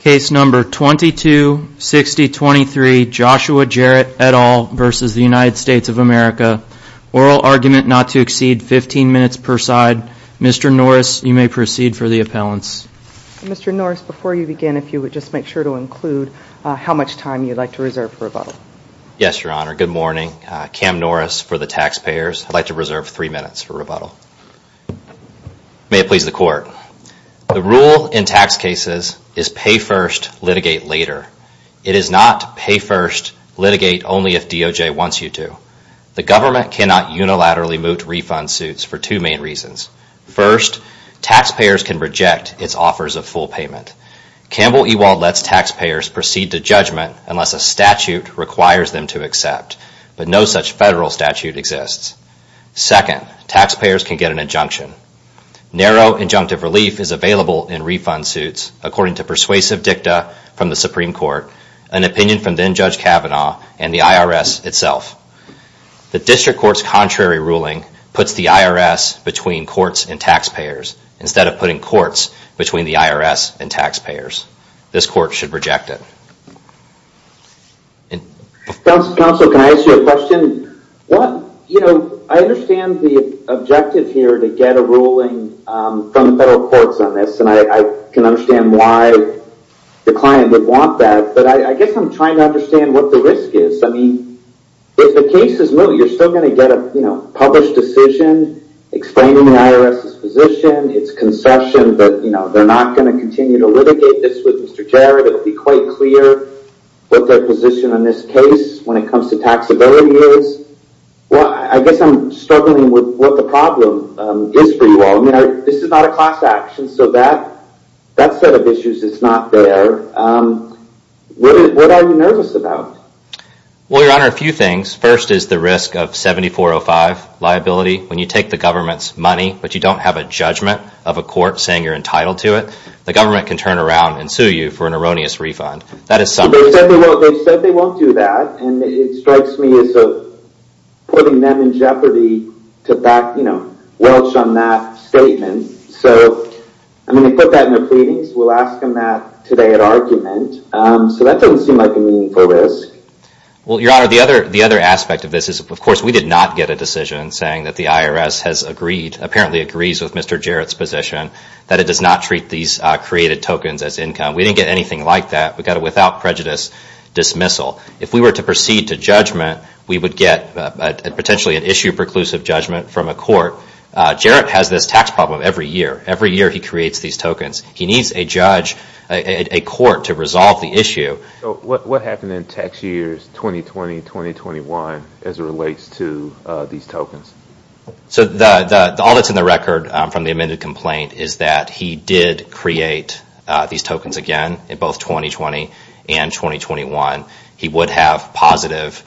Case number 226023, Joshua Jarrett et al. versus the United States of America. Oral argument not to exceed 15 minutes per side. Mr. Norris, you may proceed for the appellants. Mr. Norris, before you begin, if you would just make sure to include how much time you'd like to reserve for rebuttal. Yes, Your Honor. Good morning. Cam Norris for the taxpayers. I'd like to reserve three minutes for rebuttal. May it please the court. The rule in tax cases is pay first, litigate later. It is not pay first, litigate only if DOJ wants you to. The government cannot unilaterally moot refund suits for two main reasons. First, taxpayers can reject its offers of full payment. Campbell Ewald lets taxpayers proceed to judgment unless a statute requires them to accept. But no such federal statute exists. Second, taxpayers can get an injunction. Narrow injunctive relief is available in refund suits according to persuasive dicta from the Supreme Court, an opinion from then-Judge Kavanaugh, and the IRS itself. The district court's contrary ruling puts the IRS between courts and taxpayers instead of putting courts between the IRS and taxpayers. This court should reject it. Counsel, can I ask you a question? I understand the objective here to get a ruling from the federal courts on this, and I can understand why the client would want that, but I guess I'm trying to understand what the risk is. If the case is moot, you're still going to get a published decision explaining the IRS's position, its concession, but they're not going to continue to litigate this with Mr. Jarrett. It will be quite clear what their position on this case when it comes to taxability is. I guess I'm struggling with what the problem is for you all. This is not a class action, so that set of issues is not there. What are you nervous about? Well, Your Honor, a few things. First is the risk of 7405 liability. When you take the government's money, but you don't have a judgment of a court saying you're entitled to it, the government can turn around and sue you for an erroneous refund. They've said they won't do that, and it strikes me as putting them in jeopardy to welch on that statement. So I'm going to put that in their pleadings. We'll ask them that today at argument. So that doesn't seem like a meaningful risk. Well, Your Honor, the other aspect of this is, of course, we did not get a decision saying that the IRS apparently agrees with Mr. Jarrett's position that it does not treat these created tokens as income. We didn't get anything like that. We got a without prejudice dismissal. If we were to proceed to judgment, we would get potentially an issue preclusive judgment from a court. Jarrett has this tax problem every year. Every year he creates these tokens. He needs a judge, a court, to resolve the issue. So what happened in tax years 2020 and 2021 as it relates to these tokens? So all that's in the record from the amended complaint is that he did create these tokens again in both 2020 and 2021. He would have positive,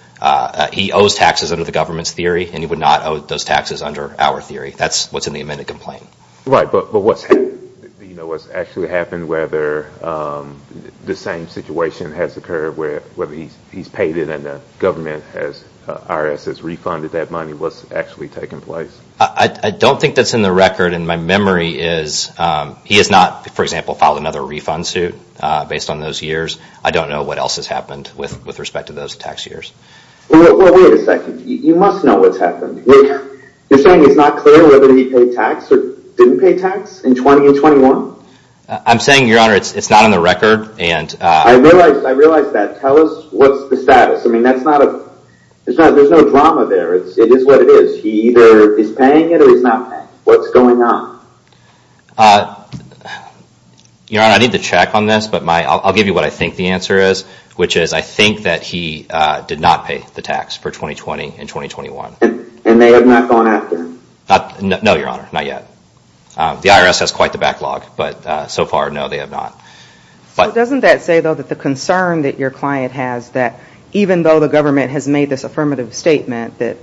he owes taxes under the government's theory, and he would not owe those taxes under our theory. That's what's in the amended complaint. Right, but what's actually happened, whether the same situation has occurred where he's paid it and the government has, IRS has refunded that money, what's actually taken place? I don't think that's in the record. My memory is he has not, for example, filed another refund suit based on those years. I don't know what else has happened with respect to those tax years. Well, wait a second. You must know what's happened. You're saying it's not clear whether he paid tax or didn't pay tax in 2020 and 2021? I'm saying, Your Honor, it's not on the record. I realize that. Tell us what's the status. There's no drama there. Tell us what it is. He either is paying it or he's not paying it. What's going on? Your Honor, I need to check on this, but I'll give you what I think the answer is, which is I think that he did not pay the tax for 2020 and 2021. And they have not gone after him? No, Your Honor, not yet. The IRS has quite the backlog, but so far, no, they have not. Doesn't that say, though, that the concern that your client has, that even though the government has made this affirmative statement, that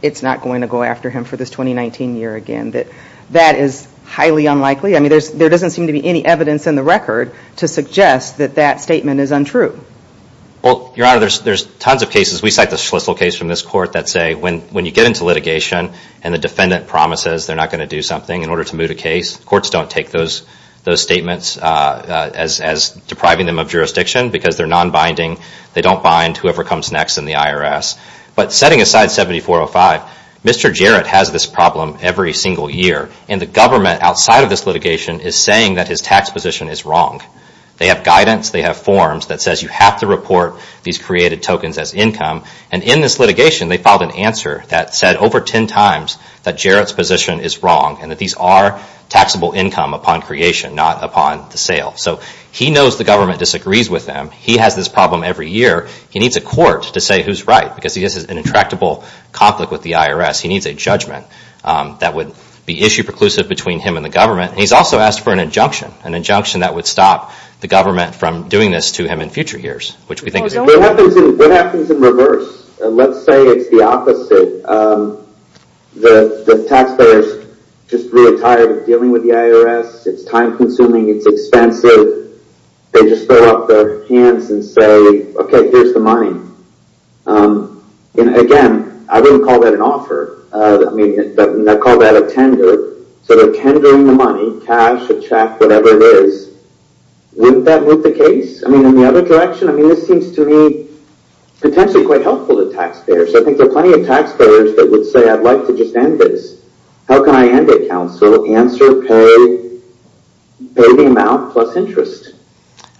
it's not going to go after him for this 2019 year again, that that is highly unlikely? I mean, there doesn't seem to be any evidence in the record to suggest that that statement is untrue. Well, Your Honor, there's tons of cases. We cite the Schlissel case from this court that say when you get into litigation and the defendant promises they're not going to do something in order to move the case, courts don't take those statements as depriving them of jurisdiction because they're non-binding. They don't bind whoever comes next in the IRS. But setting aside 7405, Mr. Jarrett has this problem every single year. And the government outside of this litigation is saying that his tax position is wrong. They have guidance, they have forms that says you have to report these created tokens as income. And in this litigation, they filed an answer that said over 10 times that Jarrett's position is wrong and that these are taxable income upon creation, not upon the sale. So he knows the government disagrees with him. He has this problem every year. He needs a court to say who's right because he has an intractable conflict with the IRS. He needs a judgment that would be issue-preclusive between him and the government. And he's also asked for an injunction, an injunction that would stop the government from doing this to him in future years, which we think is... What happens in reverse? Let's say it's the opposite. The taxpayer's just really tired of dealing with the IRS. It's time-consuming. It's expensive. They just throw up their hands and say, okay, here's the money. And again, I wouldn't call that an offer. I mean, I'd call that a tender. So they're tendering the money, cash, a check, whatever it is. Wouldn't that move the case? I mean, in the other direction, I mean, this seems to me potentially quite helpful to taxpayers. I think there are plenty of taxpayers that would say I'd like to just end this. How can I end it, counsel? By paying them out plus interest.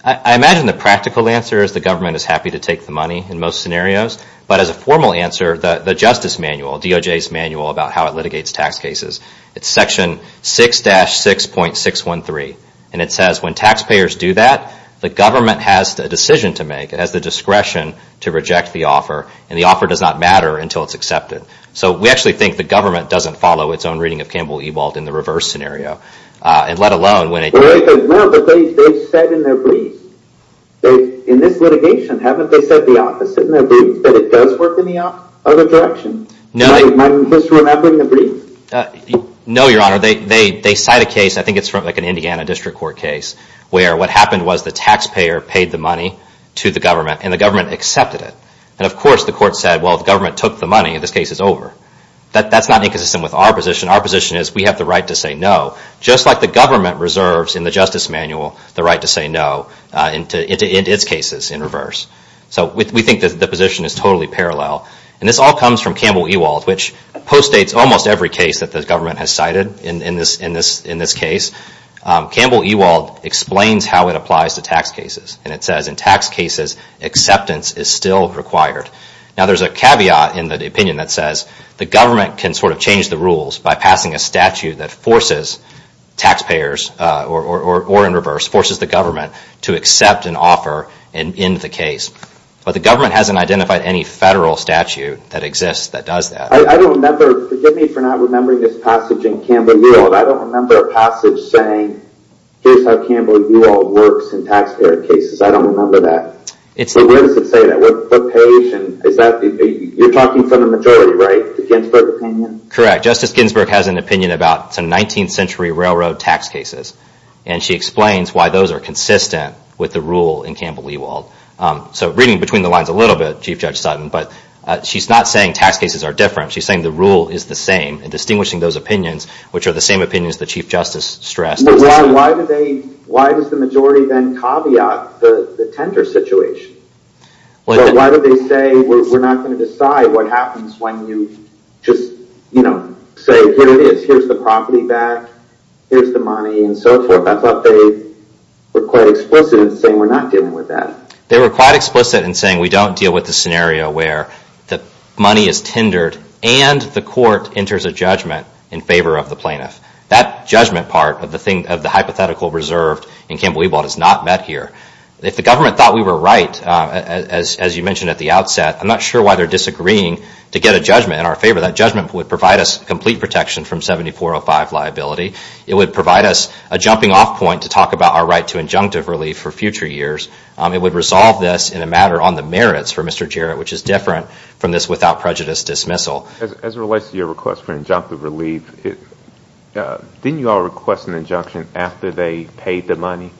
I imagine the practical answer is the government is happy to take the money in most scenarios. But as a formal answer, the Justice Manual, DOJ's manual about how it litigates tax cases, it's section 6-6.613. And it says when taxpayers do that, the government has a decision to make. It has the discretion to reject the offer. And the offer does not matter until it's accepted. So we actually think the government doesn't follow its own reading of Campbell-Ewald in the reverse scenario. And let alone when it... Well, it doesn't matter what they've said in their brief. In this litigation, haven't they said the opposite? That it does work in the other direction? Am I supposed to remember in the brief? No, Your Honor. They cite a case, I think it's from an Indiana district court case, where what happened was the taxpayer paid the money to the government and the government accepted it. And of course, the court said, well, the government took the money and this case is over. That's not inconsistent with our position. Our position is we have the right to say no. And the government reserves in the Justice Manual the right to say no in its cases in reverse. So we think that the position is totally parallel. And this all comes from Campbell-Ewald, which postdates almost every case that the government has cited in this case. Campbell-Ewald explains how it applies to tax cases. And it says in tax cases, acceptance is still required. Now there's a caveat in the opinion that says the government can sort of change the rules by passing a statute that forces taxpayers or in reverse, forces the government to accept an offer and end the case. But the government hasn't identified any federal statute that exists that does that. I don't remember, forgive me for not remembering this passage in Campbell-Ewald, I don't remember a passage saying here's how Campbell-Ewald works in taxpayer cases. I don't remember that. Where does it say that? You're talking from the majority, right? The Ginsburg opinion? Correct. Justice Ginsburg has an opinion about some 19th century railroad tax cases. And she explains why those are consistent with the rule in Campbell-Ewald. So reading between the lines a little bit, Chief Judge Sutton, but she's not saying tax cases are different. She's saying the rule is the same and distinguishing those opinions, which are the same opinions the Chief Justice stressed. Why does the majority then caveat the tender situation? Why do they say we're not going to decide what happens when you just say here it is, here's the property back, here's the money and so forth? I thought they were quite explicit in saying we're not dealing with that. They were quite explicit in saying we don't deal with the scenario where the money is tendered and the court enters a judgment in favor of the plaintiff. That judgment part of the hypothetical reserved in Campbell-Ewald is not met here. If the government thought we were right, as you mentioned at the outset, I'm not sure why they're disagreeing to get a judgment in our favor. I'm not sure why they're disagreeing to get a 2405 liability. It would provide us a jumping off point to talk about our right to injunctive relief for future years. It would resolve this in a matter on the merits for Mr. Jarrett, which is different from this without prejudice dismissal. As it relates to your request for injunctive relief, didn't you all request an injunction after they paid the money?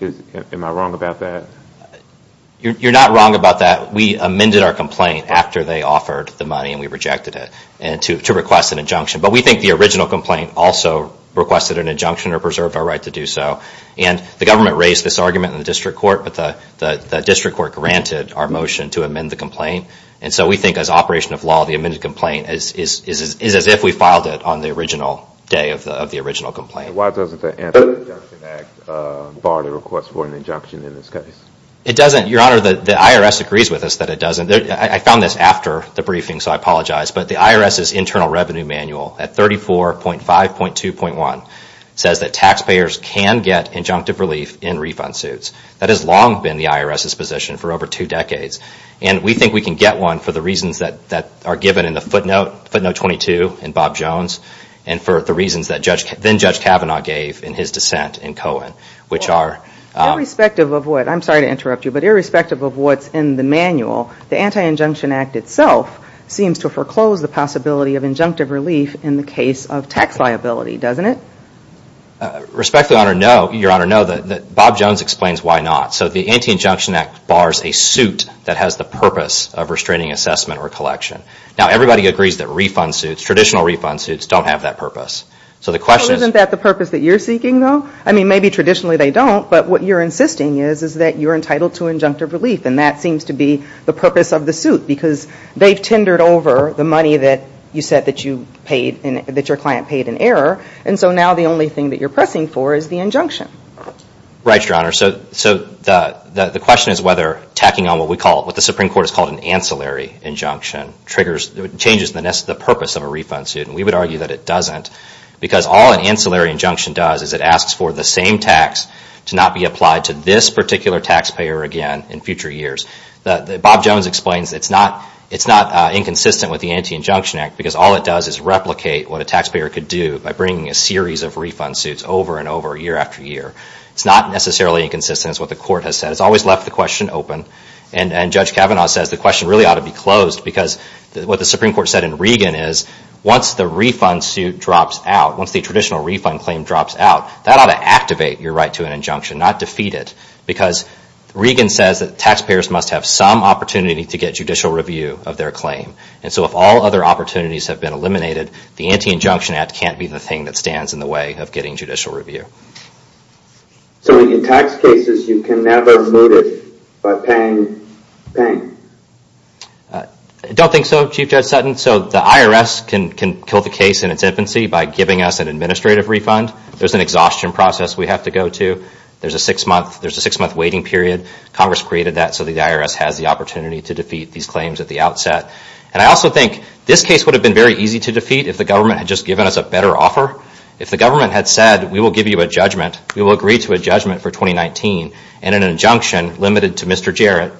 Am I wrong about that? You're not wrong about that. The original complaint also requested an injunction or preserved our right to do so. And the government raised this argument in the district court, but the district court granted our motion to amend the complaint. And so we think as operation of law, the amended complaint is as if we filed it on the original day of the original complaint. Why doesn't the Anti-Injunction Act bar the request for an injunction in this case? It doesn't, Your Honor. The IRS agrees with us that it doesn't. I found this after the briefing, so I apologize. I found this after the briefing, but the IRS, under Section 1.5.2.1, says that taxpayers can get injunctive relief in refund suits. That has long been the IRS's position for over two decades. And we think we can get one for the reasons that are given in the footnote 22 in Bob Jones and for the reasons that then-Judge Kavanaugh gave in his dissent in Cohen, which are... Irrespective of what, I'm sorry to interrupt you, but irrespective of what's in the manual, there's a tax liability, doesn't it? Respectfully, Your Honor, no. Bob Jones explains why not. So the Anti-Injunction Act bars a suit that has the purpose of restraining assessment or collection. Now, everybody agrees that refund suits, traditional refund suits, don't have that purpose. So the question is... So isn't that the purpose that you're seeking, though? I mean, maybe traditionally they don't, but what you're insisting is is that you're entitled to injunctive relief, and that seems to be the purpose of the suit because they've tendered over the money that you said that your client paid in error, and so now the only thing that you're pressing for is the injunction. Right, Your Honor. So the question is whether tacking on what the Supreme Court has called an ancillary injunction changes the purpose of a refund suit, and we would argue that it doesn't because all an ancillary injunction does is it asks for the same tax to not be applied to this particular taxpayer again in future years. It's not inconsistent with the Anti-Injunction Act because all it does is replicate what a taxpayer could do by bringing a series of refund suits over and over year after year. It's not necessarily inconsistent as what the Court has said. It's always left the question open, and Judge Kavanaugh says the question really ought to be closed because what the Supreme Court said in Regan is once the refund suit drops out, once the traditional refund claim drops out, that ought to activate your right to an injunction, that ought to activate your right to a judicial review of their claim. And so if all other opportunities have been eliminated, the Anti-Injunction Act can't be the thing that stands in the way of getting judicial review. So in tax cases, you can never move it by paying? I don't think so, Chief Judge Sutton. So the IRS can kill the case in its infancy by giving us an administrative refund. There's an exhaustion process we have to go to. There's a six-month waiting period. Congress created that at the outset. And I also think this case would have been very easy to defeat if the government had just given us a better offer. If the government had said we will give you a judgment, we will agree to a judgment for 2019, and an injunction limited to Mr. Jarrett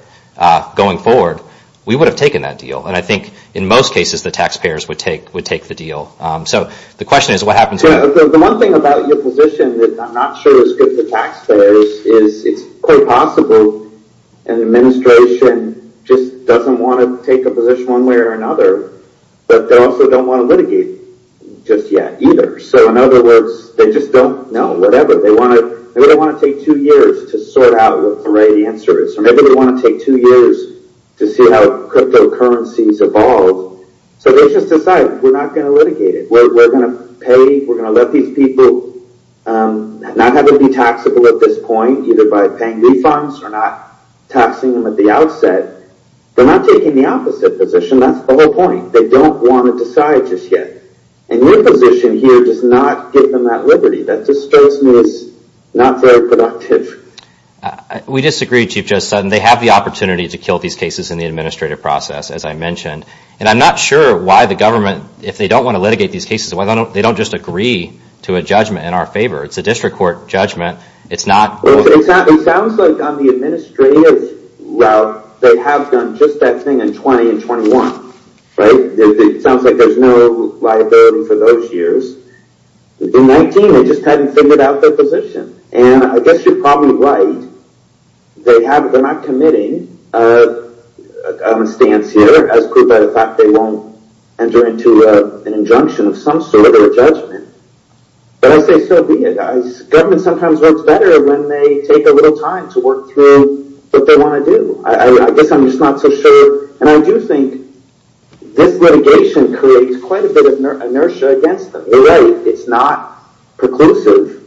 going forward, we would have taken that deal. And I think in most cases, the taxpayers would take the deal. So the question is what happens when... The one thing about your position that I'm not sure is good for taxpayers is it's quite possible that they want to take a position one way or another, but they also don't want to litigate just yet either. So in other words, they just don't know whatever. Maybe they want to take two years to sort out what the right answer is. Or maybe they want to take two years to see how cryptocurrencies evolve. So they just decide we're not going to litigate it. We're going to let these people not have to be taxable at this point either by paying refunds or the opposite position. That's the whole point. They don't want to decide just yet. And your position here does not give them that liberty. That just shows me it's not very productive. We disagree, Chief Judge Sutton. They have the opportunity to kill these cases in the administrative process, as I mentioned. And I'm not sure why the government, if they don't want to litigate these cases, why they don't just agree to a judgment in our favor. It's a district court judgment. It's 1921. It sounds like there's no liability for those years. In 19, they just hadn't figured out their position. And I guess you're probably right. They're not committing a stance here as proved by the fact they won't enter into an injunction of some sort or a judgment. But I say so be it. Governments sometimes work better when they take a little time to work through what they want to do. And I do think this litigation creates quite a bit of inertia against them. They're right. It's not preclusive,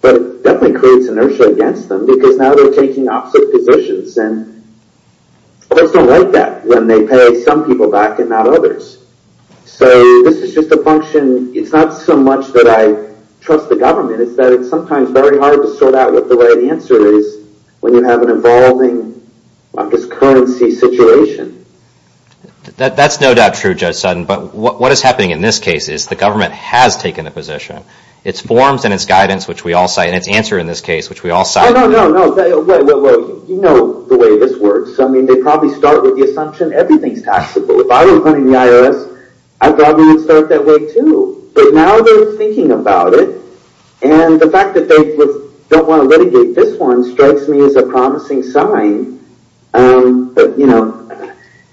but it definitely creates inertia against them because now they're taking opposite positions. And courts don't like that when they pay some people back and not others. So this is just a function. It's not so much that I trust the government. It's that it's sometimes very hard to sort out what the right answer is and what the wrong answer is. That's no doubt true, Judge Sutton. But what is happening in this case is the government has taken a position. Its forms and its guidance, and its answer in this case, which we all cite... You know the way this works. They probably start with the assumption everything's taxable. If I was running the IRS, I'd probably start that way too. But now they're thinking about it. And the fact that they don't want to litigate this one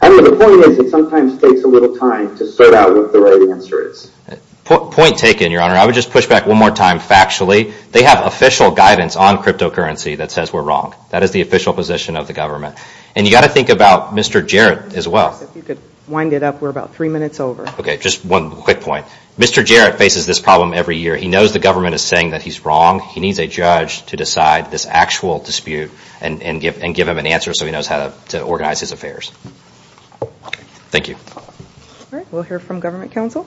I mean the point is it sometimes takes a little time to sort out what the right answer is. Point taken, Your Honor. I would just push back one more time factually. They have official guidance on cryptocurrency that says we're wrong. That is the official position of the government. And you've got to think about Mr. Jarrett as well. If you could wind it up, we're about three minutes over. Okay, just one quick point. Mr. Jarrett faces this problem every year. He knows the government is saying that he's wrong. He needs a judge to decide whether he's right or wrong. Thank you. All right, we'll hear from government counsel.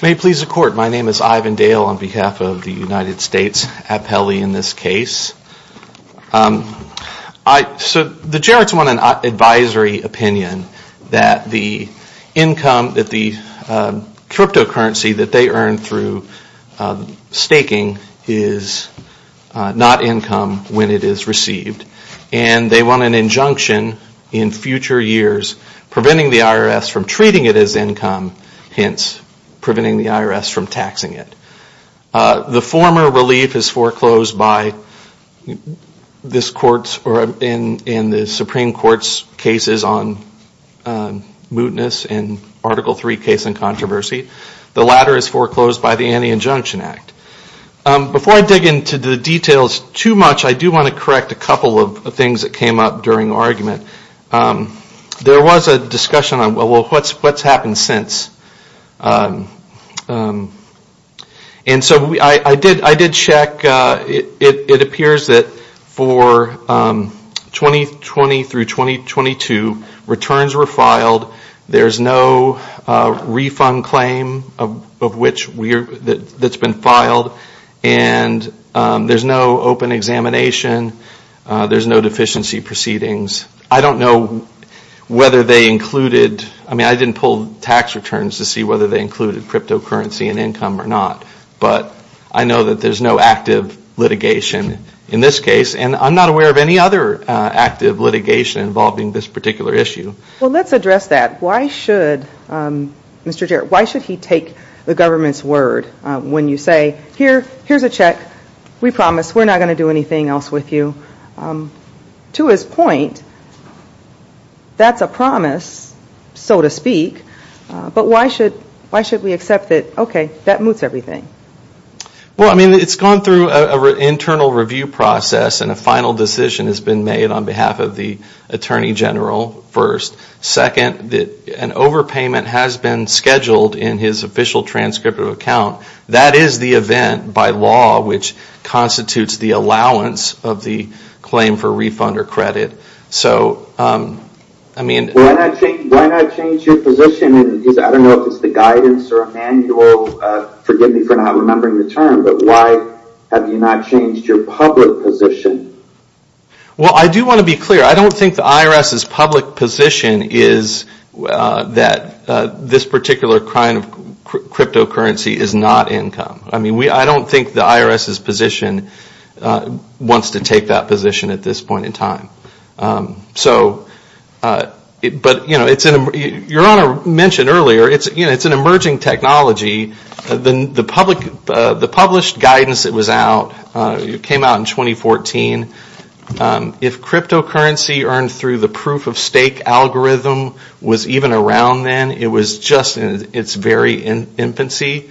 May it please the court. My name is Ivan Dale on behalf of the United States appellee in this case. Mr. Jarrett's won an advisory opinion that the income that the cryptocurrency that they earned through staking is not income when it is received. And they won an injunction in future years preventing the IRS from treating it as income hence preventing the IRS from taxing it. The former relief is foreclosed by this court in the Supreme Court's cases on mootness and Article III case and controversy. The latter is foreclosed by the Anti-Injunction Act. Before I dig into the details too much, I do want to correct a couple of things that came up during argument. There was a discussion on what's happened since. And so I did check. It appears that for 2020 through 2022 returns were filed. There's no refund claim that's been filed. And there's no open examination. There's no deficiency proceedings. I don't know whether they included I mean I didn't pull tax returns to see whether they included cryptocurrency and income or not. But I know that there's no active litigation in this case. And I'm not aware of any other active litigation involving this particular issue. Well let's address that. Why should Mr. Jarrett why should he take the government's word when you say here's a check. We promise we're not going to do anything else with you. To his point that's a promise so to speak. But why should why should we accept that okay that moots everything. Well I mean it's gone through an internal review process and a final decision has been made on behalf of the Attorney General first. Second an overpayment has been scheduled in his official transcript of account. That is the event by law which constitutes the allowance of the claim for refund or credit. So I mean why not change your position. I don't know if it's the guidance or manual forgive me for not remembering the term but why have you not changed your public position. Well I do want to be clear I don't think the IRS's public position is that this particular kind of cryptocurrency is not income. I mean we I don't think the IRS's position wants to take that position at this point in time. So but you know it's an your honor mentioned earlier it's an emerging technology the public published guidance it was out it came out in 2014 if cryptocurrency earned through the proof of stake algorithm was even around then it was just in it's very infancy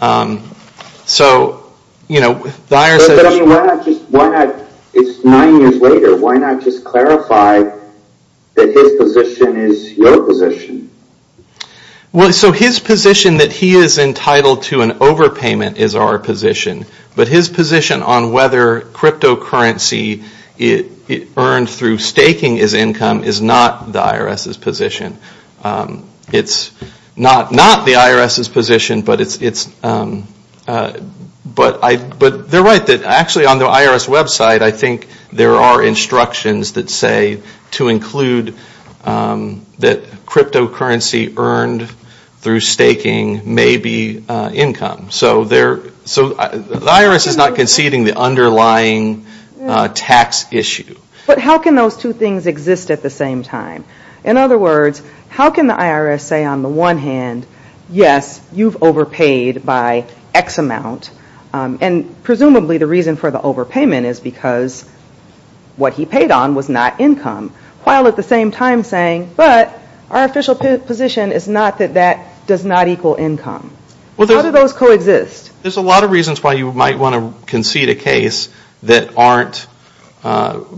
so you know the IRS says why not it's nine years later why not just clarify that his position is your position. So his position that he is entitled to an overpayment is our position but his position on whether cryptocurrency earned through staking is income is not the IRS's position. It's not the IRS's position but it's but they're right actually on the IRS website I think there are instructions that say to include that cryptocurrency earned through staking may be income so the IRS is not conceding the underlying tax issue. But how can those two things exist at the same time? In other words how can the IRS say on the one hand yes you've overpaid by X amount and presumably the reason for the overpayment is because what he paid on was not income while at the same time saying but our official position is not that that does not equal income. How do those coexist? There's a lot of reasons why you might want to concede a case that aren't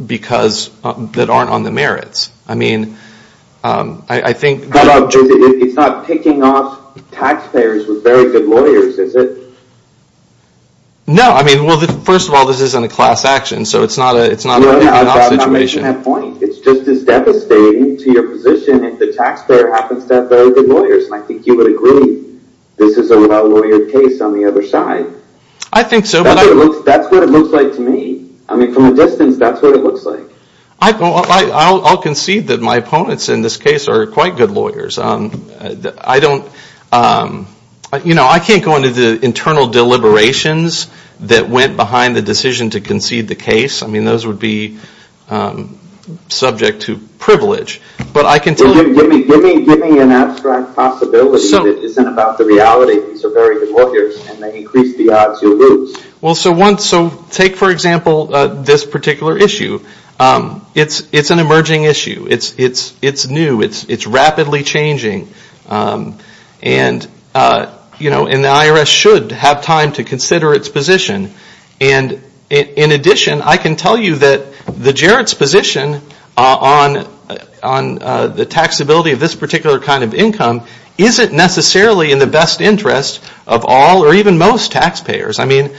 because that aren't on the merits. I mean I think How about it's not picking off taxpayers with very good lawyers is it? well first of all this isn't a class action so it's not a picking off situation. I'm making that point. It's just as devastating to your position if the taxpayer happens to have very good lawyers and I think you would agree this is a well-lawyered case on the other side. I think so but that's what it looks like to me. I mean from a distance that's what it looks like. I'll concede that my opponents in this case are quite good lawyers. I don't you know I can't go into the internal deliberations that went behind the decision to concede the case. I mean those would be subject to privilege but I can tell you give me an abstract possibility that isn't about the reality that these are very good lawyers and they increase the odds you lose. Well so take for example this particular issue. It's an emerging issue. It's new. It's rapidly changing and you know and the IRS should have time to consider its position and in addition I can tell you that the Jarrett's position on the taxability of this particular kind of income isn't necessarily in the best interest of all or even most taxpayers. I mean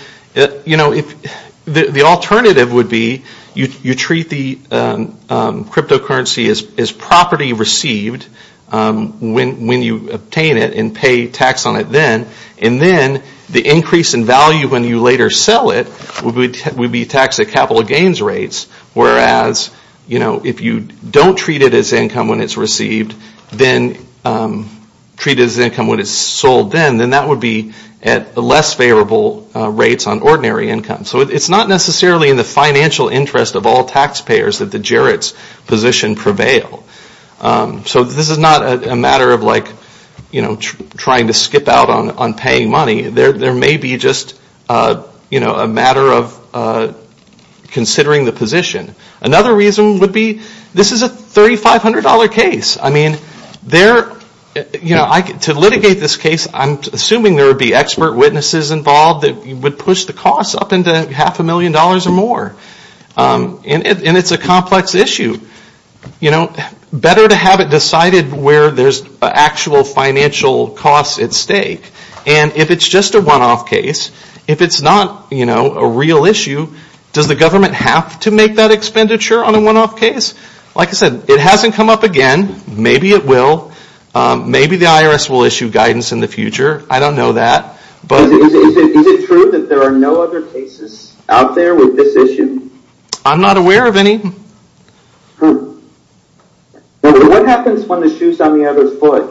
you know the alternative would be you treat the cryptocurrency as property received when you obtain it and pay tax on it then and then the increase in value when you later sell it would be taxed at capital gains rates whereas you know if you don't treat it as income when it's received then treat it as income when it's sold then then that would be at less favorable rates on ordinary income. So it's not necessarily in the financial interest or even most taxpayers it's a matter of considering the position. Another reason would be this is a $3500 case. I mean there you know to litigate this case I'm assuming there would be expert witnesses involved that would push the costs up into half a million dollars or more. And it's a complex issue. You know better to have it decided where there's actual financial costs at stake and if it's just a one-off case, if it's not a real issue does the government have to make that expenditure on a one-off case? Like I said it hasn't come up again. Maybe it will. Maybe the IRS will issue guidance in the future. I don't know that. Is it true that there are no other cases out there with this issue? I'm not aware of any. What happens when the shoe's on the other foot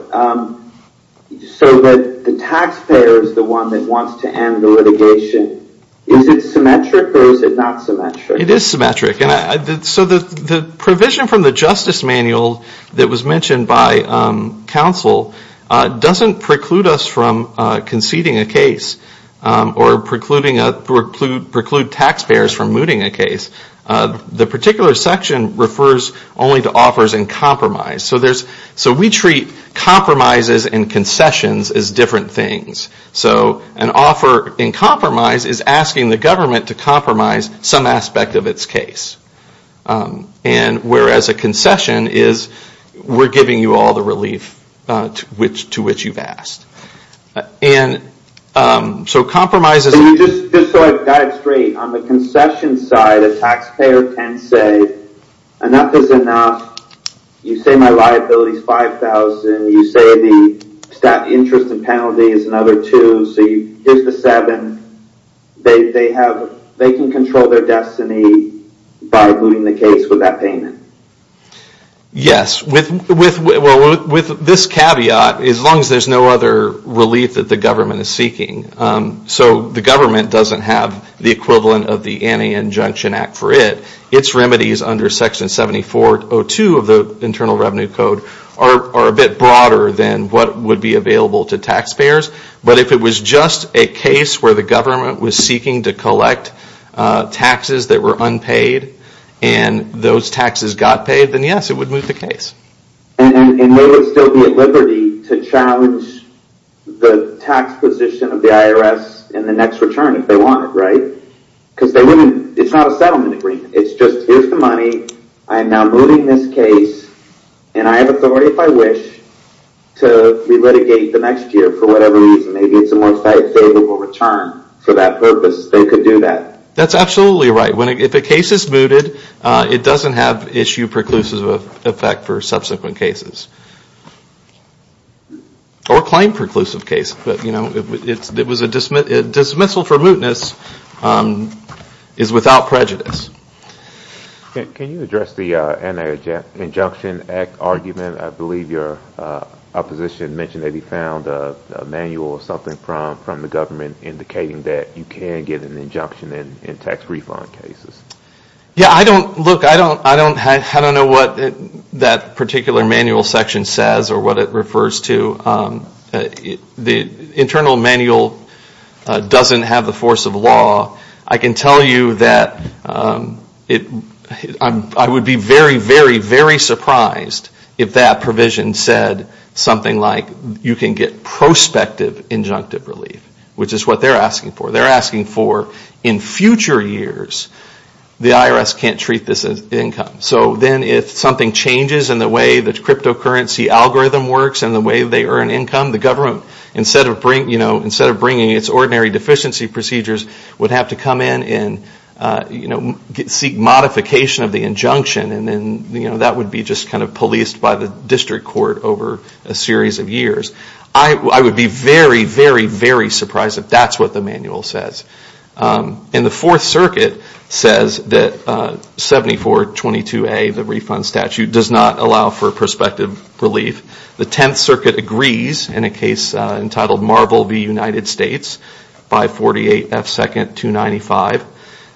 so that the taxpayer is the one that wants to end the litigation? Is it symmetric or is it not symmetric? It is symmetric. The provision from the justice manual that was mentioned by counsel doesn't preclude us from conceding a case or preclude taxpayers from moving a case. The particular section refers only to offers in compromise. We treat compromises and concessions as different things. An offer in compromise is asking the government to compromise some aspect of its case. Whereas a concession is we are giving you all the relief to which you have asked. So compromises on the concession side, a taxpayer can say enough is enough, you say my liability is 5,000, you say the staff interest and penalties is another two, so here's the 7, they can control their destiny by looting the case with that payment. With this caveat, as long as there is no other relief the government is seeking, so the government doesn't have the equivalent of the anti-injunction act, its remedies are a bit broader than what would be available to taxpayers, but if it was just a case where the government was seeking to collect taxes that were unpaid and those taxes got paid, then yes, it would still be at liberty to challenge the tax position of the IRS in the next return if they want it, right? Because it's not a settlement agreement, it's just here's the money, I am now looting this case and I have authority if I wish to relitigate the next year for whatever reason, maybe it's a more satisfiable return for that purpose, they could do that. That's absolutely right. If a case is mooted, it doesn't have issue preclusive effect for subsequent cases. Or claim preclusive cases. Dismissal for mootness is without prejudice. Can you address the injunction argument? I believe your opposition mentioned that he found a manual indicating you can get an injunction in tax refund cases. I don't know what that particular manual section says or what it refers to. The doesn't have the force of law. I can tell you that I would be very, very surprised if that provision said something like you can get prospective injunctive relief, which is what they're asking for. They're asking for in future years, the IRS can't treat this as income. So then if something changes in the way the cryptocurrency algorithm works and the way they earn income, the government instead of bringing its ordinary deficiency procedures would have to come in and seek modification of the injunction. That would be policed by the district court over a series of years. I would be very, very, very surprised if that's what the manual says. And the Fourth Circuit says that 7422A, the refund statute, does not allow for prospective relief. The Tenth Circuit agrees in a case entitled Marvel v. United States, 548F 295.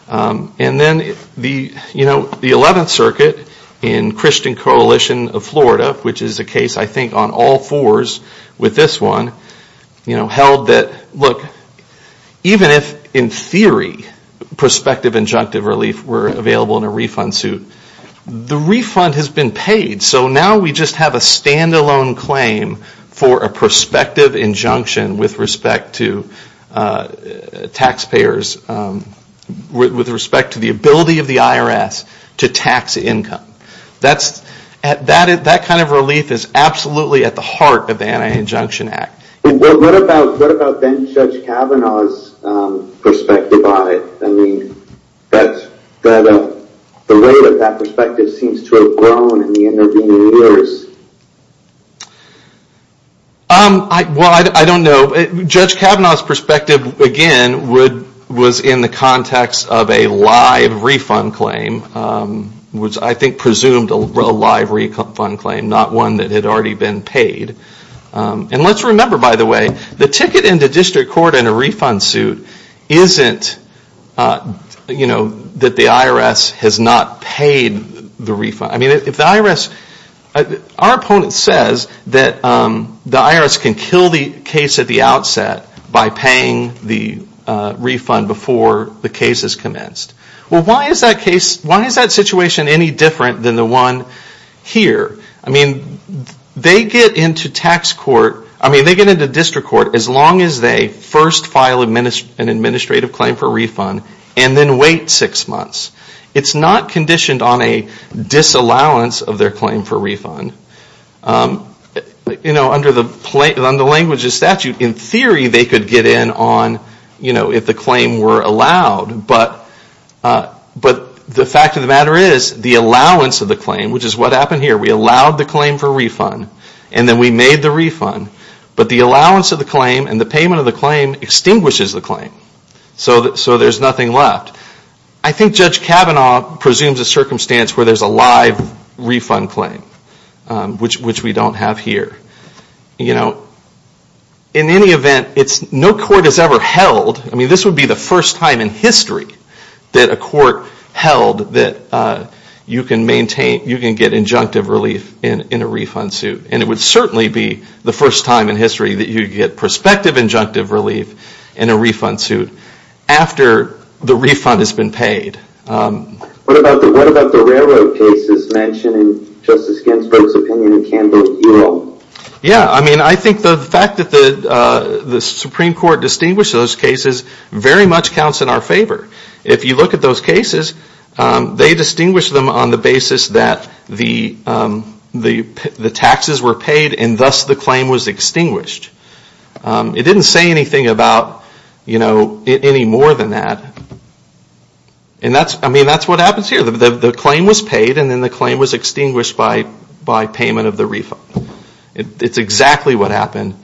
And then the Eleventh Circuit in Christian Coalition of Florida, which is a case I think on all fours with this one, held that look, even if in theory prospective injunctive relief were available in a refund suit, the refund has been paid. So now we just have a standalone claim for a prospective injunction with respect to taxpayers, with respect to the ability of the IRS to tax income. That kind of relief is absolutely at the heart of the Anti-Injunction Act. What about Judge Kavanaugh's perspective on it? I mean, the rate of that perspective seems to have grown in the intervening years. Well, I don't know. Judge Kavanaugh's perspective, again, was in the context of a live refund claim, which I think presumed a live refund claim, not one that had already been paid. And let's remember, by the way, the ticket into district court in a refund suit isn't that the IRS has not paid the refund. Our opponent says that can kill the case at the outset by paying the refund before the case has commenced. Well, why is that situation any different than the one here? I mean, they get into district court as long as they first file an administrative claim for refund and then wait six months. It's not conditioned on a disallowance of their claim for refund. Under the language of statute, in theory, they could get in if the claim were allowed. But the fact of the matter is, the allowance of the claim, which is what happened here, we allowed the claim for refund and then we made the refund. But the allowance of the claim and the payment of the claim extinguishes the claim. So there's nothing left. I think Judge Kavanaugh presumes a circumstance where there's a live refund claim, which we don't have here. In any event, no court has ever held, I mean this would be the first time in history that a court held that you can get injunctive relief in a refund suit. And it would certainly be the first time in history that you get relief in suit. So that's the case. I think the Supreme Court distinguishes those cases very much counts in our favor. If you look at those cases, they distinguish them on the basis that the taxes were paid and thus the claim was paid and then the claim was extinguished by payment of the refund. It's exactly what happened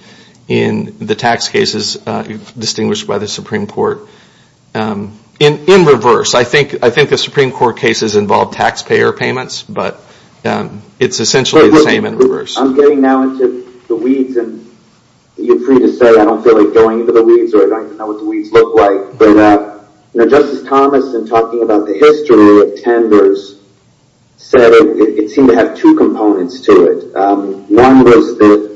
in the tax cases distinguished by the Supreme Court. In reverse, I think the Supreme Court cases involve taxpayer payments, but it's essentially the same case. In reverse, I'm getting now into the weeds and you're free to say I don't feel like going into the weeds or I don't even know what the weeds look like. Justice Thomas in talking about the history of tenders said it seemed to have two components to it. One was the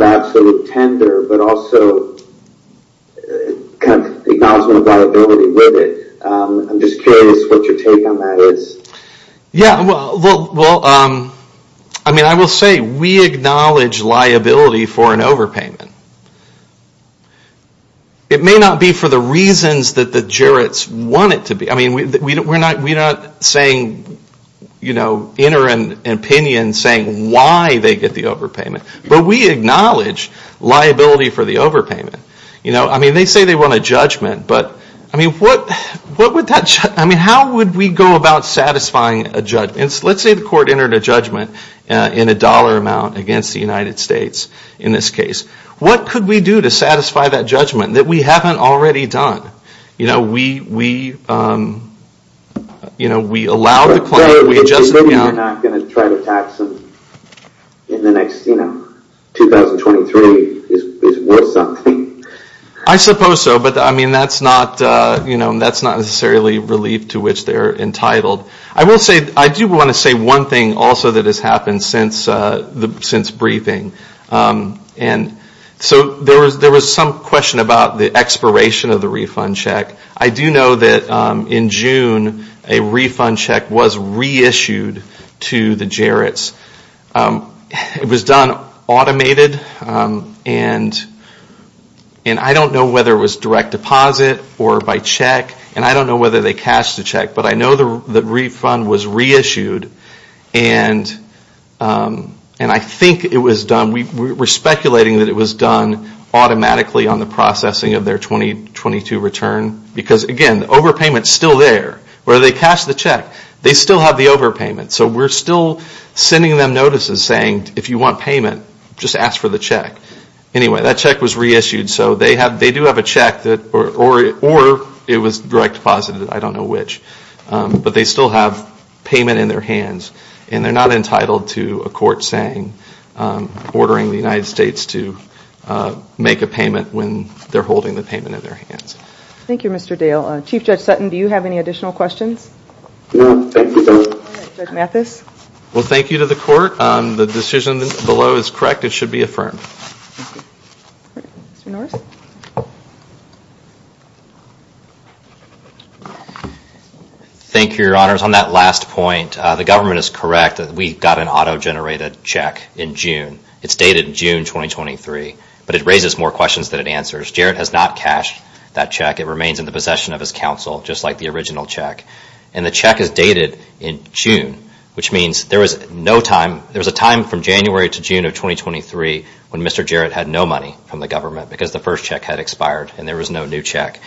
absolute tender, but also the acknowledgement of liability with it. I'm just curious what your take on that is. Well, I will say we acknowledge liability for an overpayment. It may not be for the reasons that the jurors want it to be. We're not saying why they get the overpayment, but we acknowledge liability for the overpayment. They say they want a judgment, but how would we go about satisfying a judgment? Let's say the court entered a judgment in a dollar amount against the United States in this case. What could we do to satisfy that judgment that we haven't already done? We allow the claim, we adjust it. Maybe you're not going to try to tax them in the next 2023. I suppose so, but that's not necessarily a relief to which they're entitled. I do want to say one thing also that has happened since briefing. There was some question about the expiration of the refund check. I do know that in June a refund check was reissued to the Jarrett's. It was done automated, and I don't know whether it was direct deposit or by check, and I don't know whether they cashed the check, but I know the refund was reissued, and I think it was done automatically on the processing of their 2022 return, because again, overpayment is still there. They still have the overpayment, so we're still sending them notices saying if you want payment, just ask for the check. Anyway, that check was reissued, so they do have a check, or it was direct deposit, I don't know which, but they still have payment in their hands, and they're not entitled to a court saying ordering the United States to make a payment when they're holding the payment in their hands. Thank you, Mr. Dale. Chief Judge Sutton, do you have any additional questions? Well, thank you to the court. The decision below is correct. It should be affirmed. Thank you, Your Honors. On that last point, the government is correct that we got an auto-generated check in June. It's dated June 2023, but it raises more questions than it answers. Jarrett has not cashed that check. It remains in the possession of his counsel, just like the original check, and the check is dated in June, which means there was a time from January to June of 2023 when Mr. Jarrett had no money from the government because the first check had expired and there was no new check.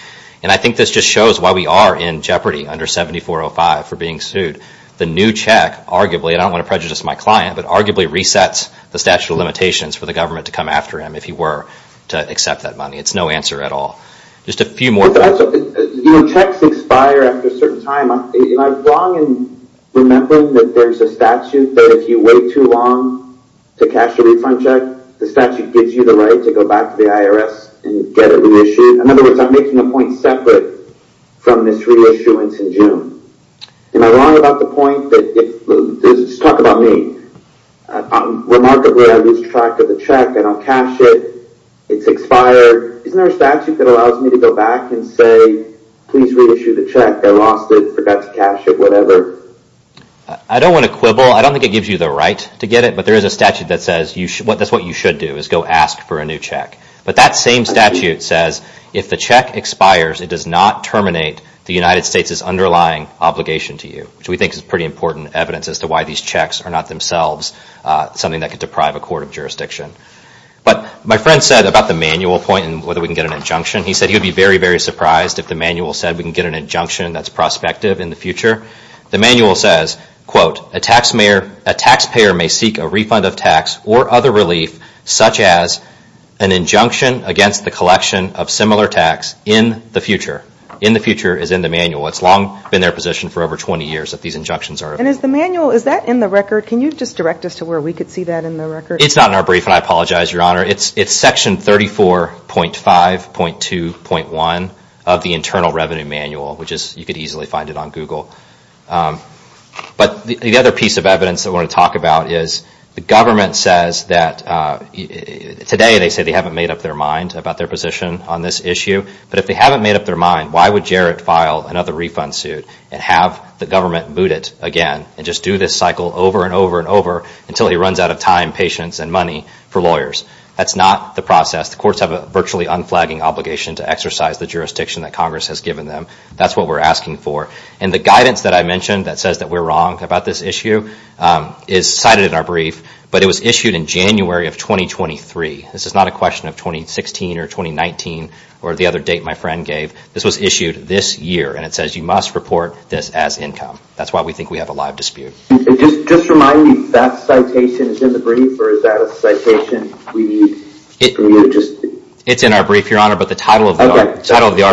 And I think this just shows why we are in jeopardy under 7405 for being sued. The new check arguably resets the statute of limitations for the government to come after him if he were to come to cash the refund check. The statute gives you the right to go back to the IRS and get it reissued. In other words, I'm making a point separate from this reissuance in June. Am I wrong about the point that, just talk about me, remarkably, I lose track of what is I don't know. I don't know. I don't know. I don't know. I don't know. I don't don't know. I don't know. I don't know. I don't know. I I don't know. I don't have that precisely. I don't know. I don't have I don't know. I don't know. I don't know. It doesn't have money. years have no idea what to do. Don't have money to say where idea what to do. No idea what to do. No idea what to do. No idea what